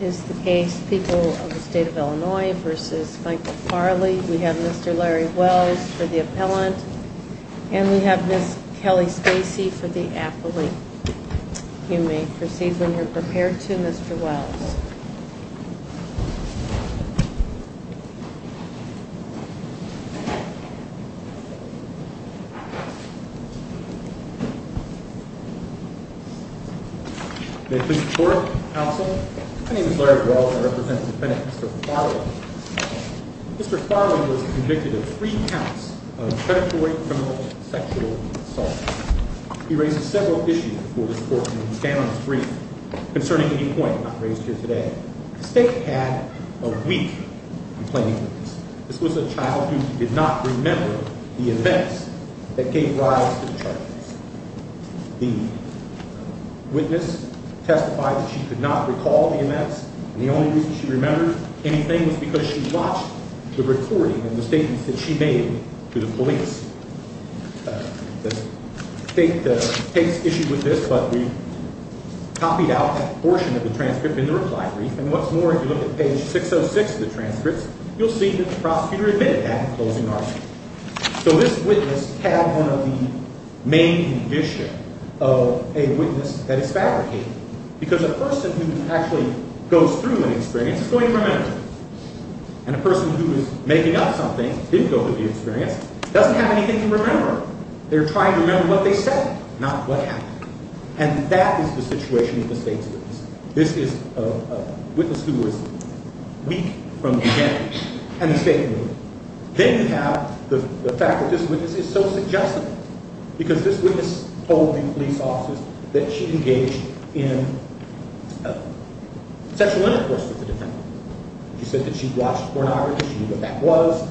Is the case people of the state of Illinois versus Michael Farley. We have Mr Larry Wells for the appellant and we have this kelly spacey for the athlete. You may proceed when you're prepared to Mr Wells. Thank you. Mr Farley was convicted of three counts of predatory sexual assault. He raised several issues concerning any point raised here today. State had a week complaining. This was a child who did not remember the events that gave rise to charges. The witness testified that she could not recall the events. The only reason she remembers anything was because she watched the recording and the case issued with this, but we copied out a portion of the transcript in the reply brief. And what's more, if you look at page 606 of the transcripts, you'll see that the prosecutor admitted that in closing argument. So this witness had one of the main condition of a witness that is fabricated. Because a person who actually goes through an experience is going to remember. And a person who is making up something, did go through the experience, doesn't have anything to remember. They're not what happened. And that is the situation of the state's witness. This is a witness who was weak from the beginning and the state knew it. Then you have the fact that this witness is so suggestive because this witness told the police officers that she engaged in sexual intercourse with the defendant. She said that she watched pornography. She knew what that was.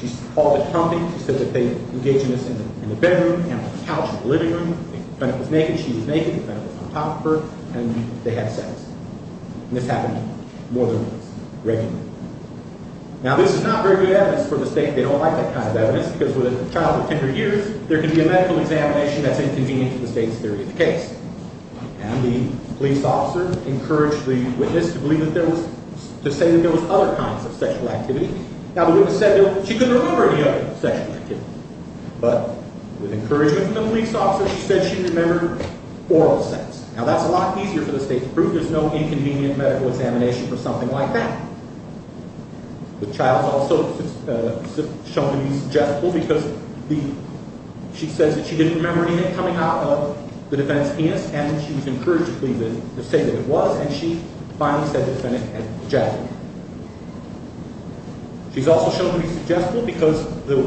She called the company. She said that they think the defendant was naked. She was naked. The defendant was on top of her and they had sex. And this happened more than once, regularly. Now this is not very good evidence for the state. They don't like that kind of evidence because with a child of 10 or years, there can be a medical examination that's inconvenient to the state's theory of the case. And the police officer encouraged the witness to believe that there was, to say that there was other kinds of sexual activity. Now the witness said that she couldn't remember any other sexual activity. But with encouragement from the police officer, she said she remembered oral sex. Now that's a lot easier for the state to prove. There's no inconvenient medical examination for something like that. The child's also shown to be suggestible because she says that she didn't remember any of it coming out of the defendant's penis and she was encouraged to believe it, to say that it was, and she finally said the defendant had suggested it. She's also shown to be suggestible because the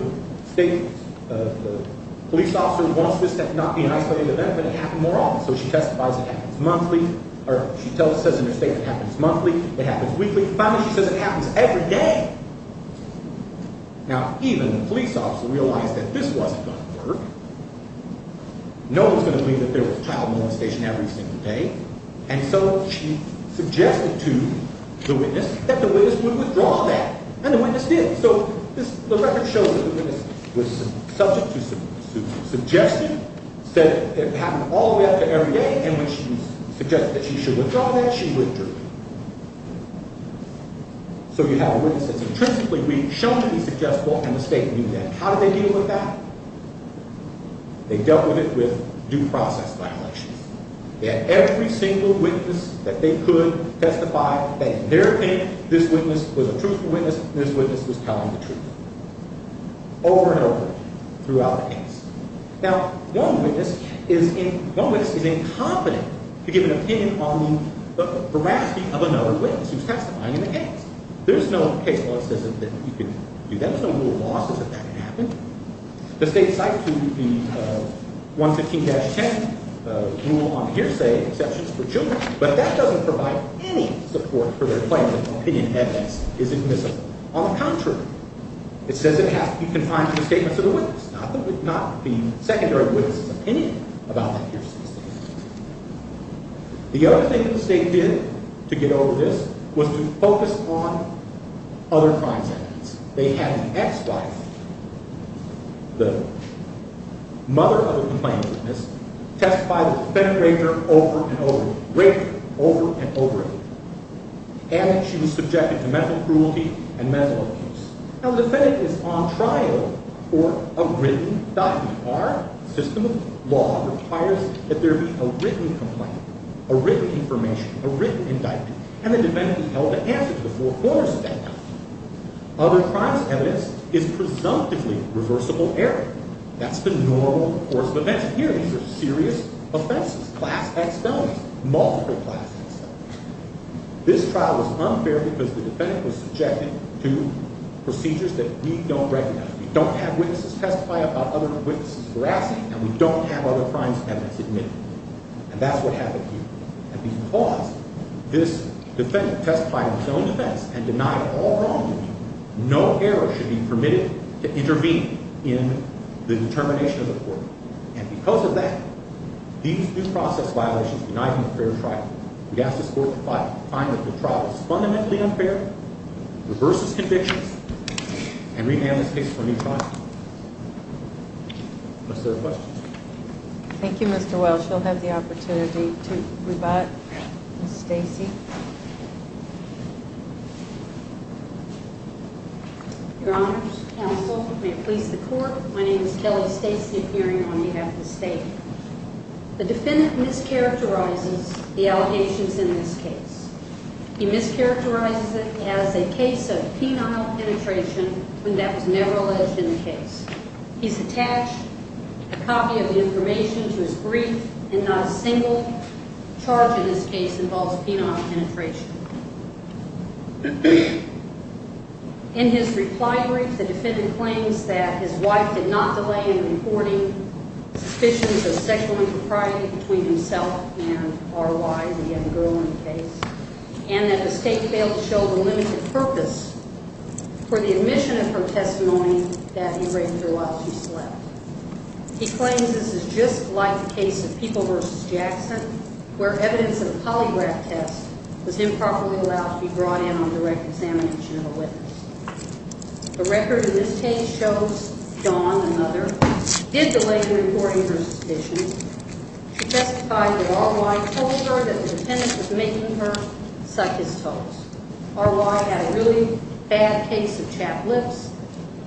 state, the police officer wants this to not be an isolated event, but it happened more often. So she testifies it happens monthly, or she says in her statement it happens monthly, it happens weekly. Finally she says it happens every day. Now even the police officer realized that this wasn't going to work. No one's going to believe that there was child molestation every single day. And so she suggested to the witness that the witness would withdraw that. And the witness did. So the record shows that the witness was subject to suggestion, said it happened all the way up to every day, and when she suggested that she should withdraw that, she withdrew. So you have a witness that's intrinsically shown to be suggestible and the state knew that. And how did they deal with that? They dealt with it with due process violations. They had every single witness that they could testify that in their opinion this witness was a truthful witness and this witness was telling the truth. Over and over throughout the case. Now one witness is incompetent to give an opinion on the veracity of another witness who's testifying in the case. There's no case law that says that you can do that. There's no rule of law that says that that could happen. The state cites the 115-10 rule on hearsay exceptions for children, but that doesn't provide any support for their claim that opinion evidence is admissible. On the contrary, it says it has to be confined to the statements of the witness, not the secondary witness' opinion about that hearsay statement. The other thing the state did to get over this was to focus on other crimes. They had an ex-wife, the mother of the complainant's witness, testify the defendant raped her over and over, raped her over and over again. And she was subjected to mental cruelty and mental abuse. Now the defendant is on trial for a written document. Our system of information, a written indictment, and the defendant was held to answer to the foreclosure statement. Other crimes evidence is presumptively reversible error. That's the normal course of events. Here these are serious offenses, class X felonies, multiple class X felonies. This trial was unfair because the defendant was subjected to procedures that we don't recognize. We don't have witnesses testify about other crimes evidence admitted. And that's what happened here. And because this defendant testified in his own defense and denied all wrongdoing, no error should be permitted to intervene in the determination of the court. And because of that, these due process violations denied him a fair trial. We ask this court to find that the trial is fundamentally unfair, reverses convictions, and rename this case for a new trial. Thank you, Mr. Welch. You'll have the opportunity to rebut Stacey. Your Honor's counsel may please the court. My name is Kelly Stacy appearing on behalf of the state. The defendant mischaracterizes the allegations in this case. He is attached a copy of the information to his brief and not a single charge in this case involves penile penetration. In his reply brief, the defendant claims that his wife did not delay in reporting suspicions of sexual impropriety between himself and R.Y., the young girl in the case, and that the state failed to show the limited purpose for the He claims this is just like the case of People v. Jackson, where evidence of a polygraph test was improperly allowed to be brought in on direct examination of a witness. The record in this case shows Dawn, another, did delay in reporting her suspicions. She testified that R.Y. told her that the defendant was making her suck his toes. R.Y. had a really bad case of chapped lips.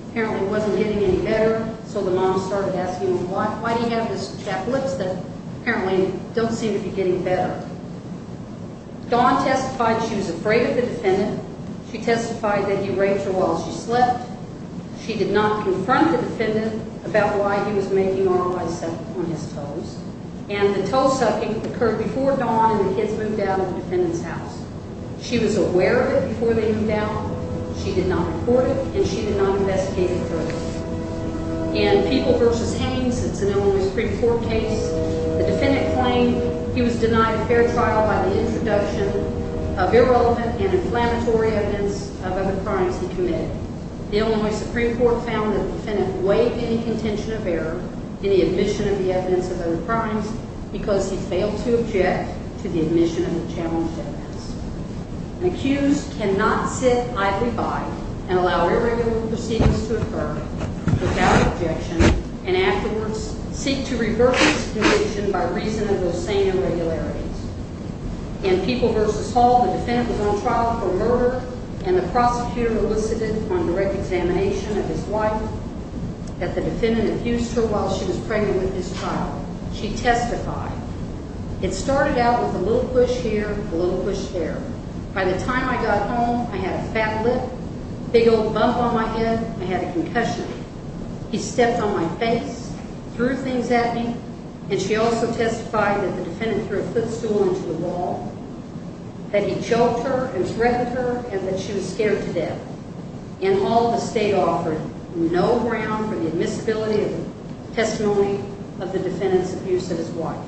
Apparently it wasn't getting any better, so the mom started asking him, why do you have this chapped lips that apparently don't seem to be getting better? Dawn testified she was afraid of the defendant. She testified that he raped her while she slept. She did not confront the defendant about why he was making R.Y. suck on his toes. And the toe sucking occurred before Dawn and the kids moved out of the defendant's house. She was aware of it before they moved out, she did not report it, and she did not investigate it further. In People v. Haines, it's an Illinois Supreme Court case, the defendant claimed he was denied a fair trial by the introduction of irrelevant and inflammatory evidence of other crimes he committed. The Illinois Supreme Court found that the defendant weighed any contention of error in the admission of the evidence of other crimes because he cannot sit idly by and allow irregular proceedings to occur without objection and afterwards seek to revert the situation by reason of those same irregularities. In People v. Hall, the defendant was on trial for murder and the prosecutor elicited on direct examination of his wife that the defendant abused her while she was pregnant with his child. She testified that the defendant abused her. By the time I got home, I had a fat lip, big old bump on my head, I had a concussion. He stepped on my face, threw things at me, and she also testified that the defendant threw a footstool into the wall, that he choked her and threatened her, and that she was scared to death. In Hall, the state offered no ground for the admissibility of testimony of the defendant's abuse of his wife.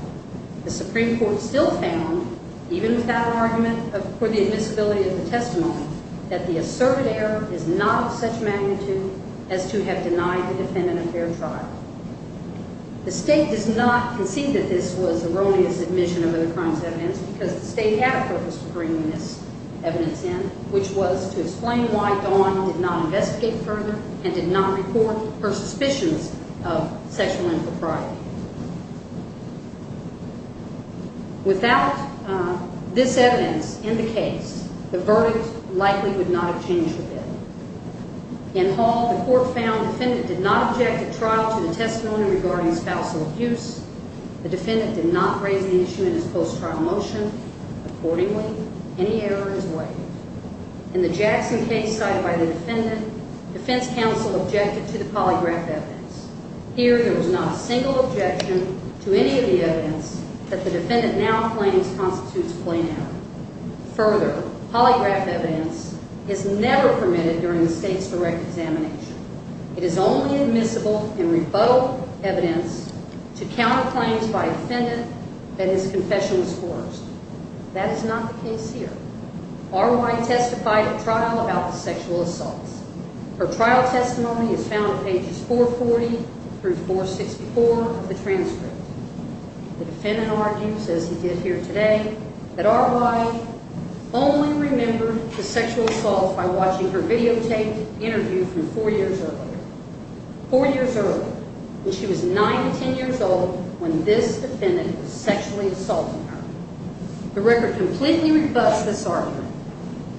The Supreme Court also filed an argument for the admissibility of the testimony that the asserted error is not of such magnitude as to have denied the defendant a fair trial. The state does not concede that this was erroneous admission of other crimes evidence because the state had a purpose for bringing this evidence in, which was to explain why Dawn did not investigate further and did not report her suspicions of sexual impropriety. Without this evidence, in the case, the verdict likely would not have changed the bill. In Hall, the court found the defendant did not object at trial to the testimony regarding spousal abuse. The defendant did not raise the issue in his post-trial motion. Accordingly, any error is waived. In the Jackson case cited by the defendant, defense counsel objected to the polygraph evidence. Here, there was not a single objection to any of the evidence that the defendant now claims constitutes a plain error. Further, polygraph evidence is never permitted during the state's direct examination. It is only admissible in rebuttal evidence to counter claims by a defendant that his confession was forced. That is not the case here. R. Y. testified at trial about the sexual assaults. Her trial testimony is found at today that R. Y. only remembered the sexual assaults by watching her videotaped interview from four years earlier. Four years earlier, when she was nine to ten years old, when this defendant was sexually assaulting her. The record completely rebuts this argument.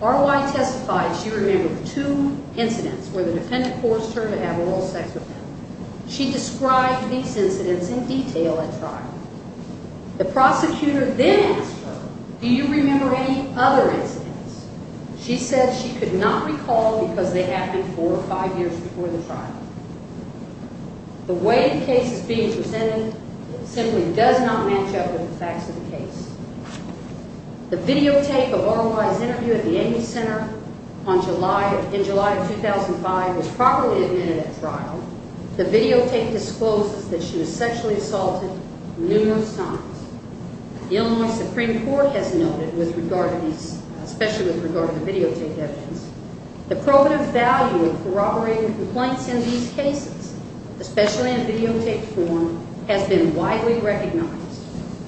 R. Y. testified she remembered two incidents where the defendant forced her to have oral sex with him. She described these incidents in detail at trial. The prosecutor then asked her, do you remember any other incidents? She said she could not recall because they happened four or five years before the trial. The way the case is being presented simply does not match up with the facts of the case. The videotape of R. Y.'s interview at the trial, the videotape discloses that she was sexually assaulted numerous times. The Illinois Supreme Court has noted, especially with regard to videotaped evidence, the probative value of corroborating complaints in these cases, especially in videotaped form, has been widely recognized.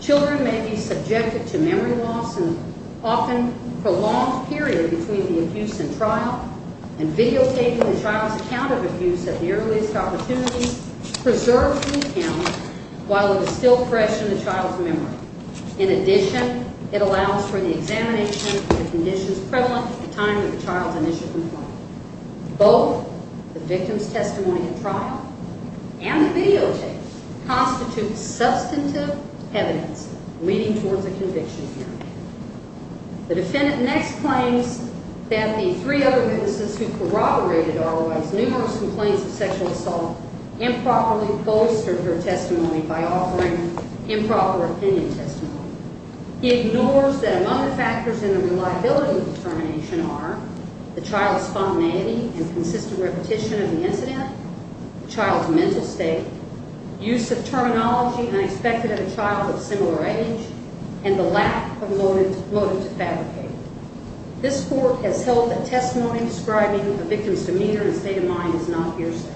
Children may be subjected to memory loss and often prolonged period between the child's account of abuse at the earliest opportunity preserves the account while it is still fresh in the child's memory. In addition, it allows for the examination of the conditions prevalent at the time of the child's initial complaint. Both the victim's testimony at trial and the videotape constitute substantive evidence leading towards a conviction hearing. The defendant next claims that the three other witnesses who corroborated R. Y.'s numerous complaints of sexual assault improperly bolstered her testimony by offering improper opinion testimony. He ignores that among the factors in the reliability of the determination are the child's spontaneity and consistent repetition of the incident, the child's mental state, use of terminology unexpected of a child of similar age, and the lack of motive to fabricate. This court has held that testimony describing a victim's demeanor and state of mind is not hearsay.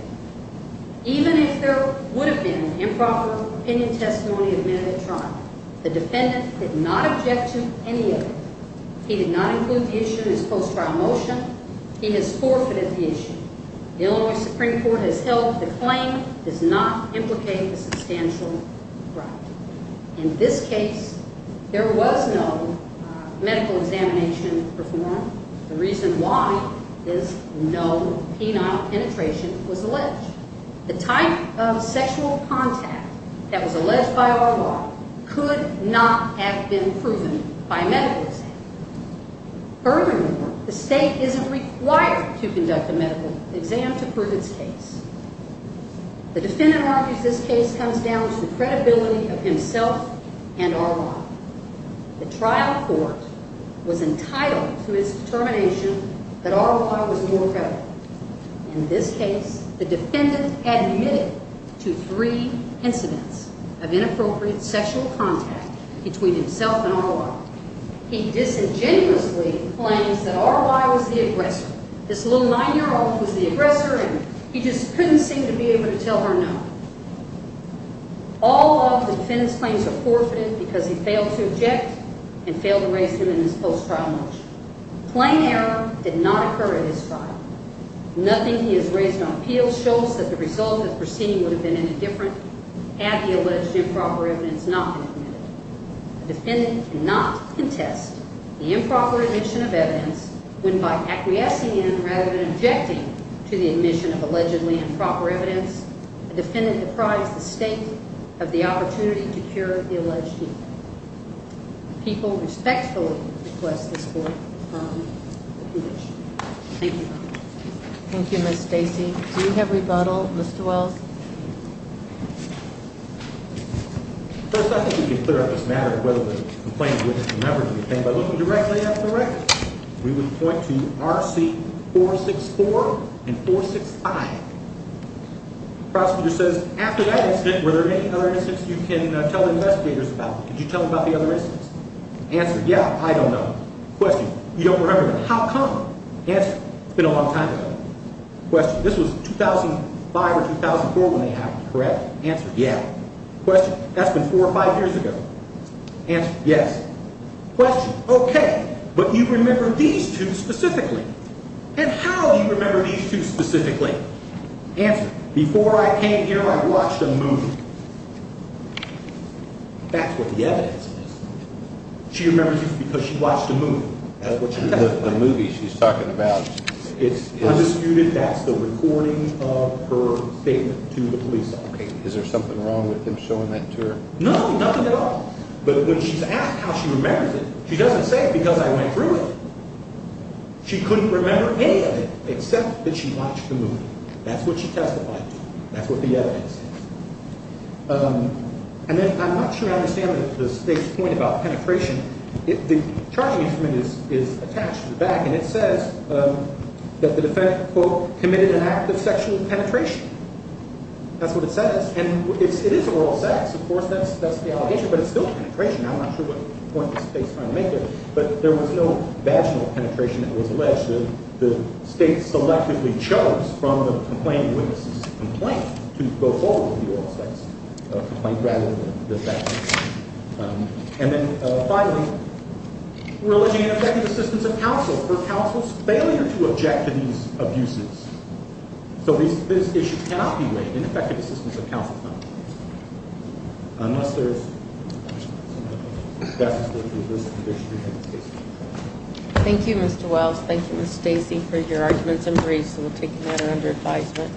Even if there would have been improper opinion testimony admitted at trial, the defendant did not object to any of it. He did not include the issue in his post-trial motion. He has forfeited the issue. The Illinois Supreme Court has held the claim does not implicate a substantial crime. In this case, there was no medical examination performed. The reason why is no penile penetration was alleged. The type of sexual contact that was alleged by R. Y. could not have been proven by a medical exam. Furthermore, the state isn't required to conduct a medical exam to prove its case. The defendant argues this case comes down to the credibility of himself and R. Y. The trial court was entitled to its determination that R. Y. was more credible. In this case, the defendant admitted to three incidents of inappropriate sexual contact between himself and R. Y. He disingenuously claims that R. Y. was the aggressor. This little nine-year-old was the aggressor and he just couldn't seem to be able to tell her no. All of the defendant's claims are forfeited because he failed to object and failed to raise him in his post-trial motion. Plain error did not occur at his trial. Nothing he has raised on appeal shows that the result of the proceeding would have been any different had the alleged improper evidence not been admitted. The defendant cannot contest the improper admission of evidence when by acquiescing rather than objecting to the admission of allegedly improper evidence, the defendant deprived the state of the opportunity to cure the alleged evil. People respectfully request this court to confirm the conviction. Thank you. Thank you, Ms. Stacy. Do we have rebuttal, Mr. Wells? First, I think we can clear up this matter of whether the complaint by looking directly at the record. We would point to RC 464 and 465. The prosecutor says after that incident, were there any other incidents you can tell the investigators about? Could you tell them about the other incidents? Answer, yeah, I don't know. Question, you don't remember them. How come? Answer, it's been a long time ago. Question, this was 2005 or 2004 when they happened, correct? Answer, yeah. Question, that's been four or five years ago. Answer, yes. Question, okay, but you remember these two specifically. And how do you remember these two specifically? Answer, before I came here, I watched a movie. That's what the evidence is. She remembers because she watched a movie. The movie she's talking about. It's undisputed. That's the recording of her statement to the police. Is there something wrong with him showing that to her? No, nothing at all. But when she's asked how she remembers it, she doesn't say because I went through it. She couldn't remember any of it except that she watched the movie. That's what she testified to. That's what the evidence is. And then I'm not sure I understand the State's point about penetration. The charging instrument is attached to the back, and it says that the defendant, quote, committed an act of sexual penetration. That's what it says. And it is oral sex. Of course, that's the allegation. But it's still penetration. I'm not sure what point the State's trying to make here. But there was no vaginal penetration that was alleged. The State selectively chose from the complainant witness' complaint to go forward with the oral sex complaint rather than the vaginal. And then finally, religion and objective assistance of counsel for counsel's failure to object to these abuses. So these issues cannot be weighed in effective assistance of counsel's counsel. Unless there is... Thank you, Mr. Wells. Thank you, Ms. Stacy, for your arguments and briefs. We'll take them under advisement.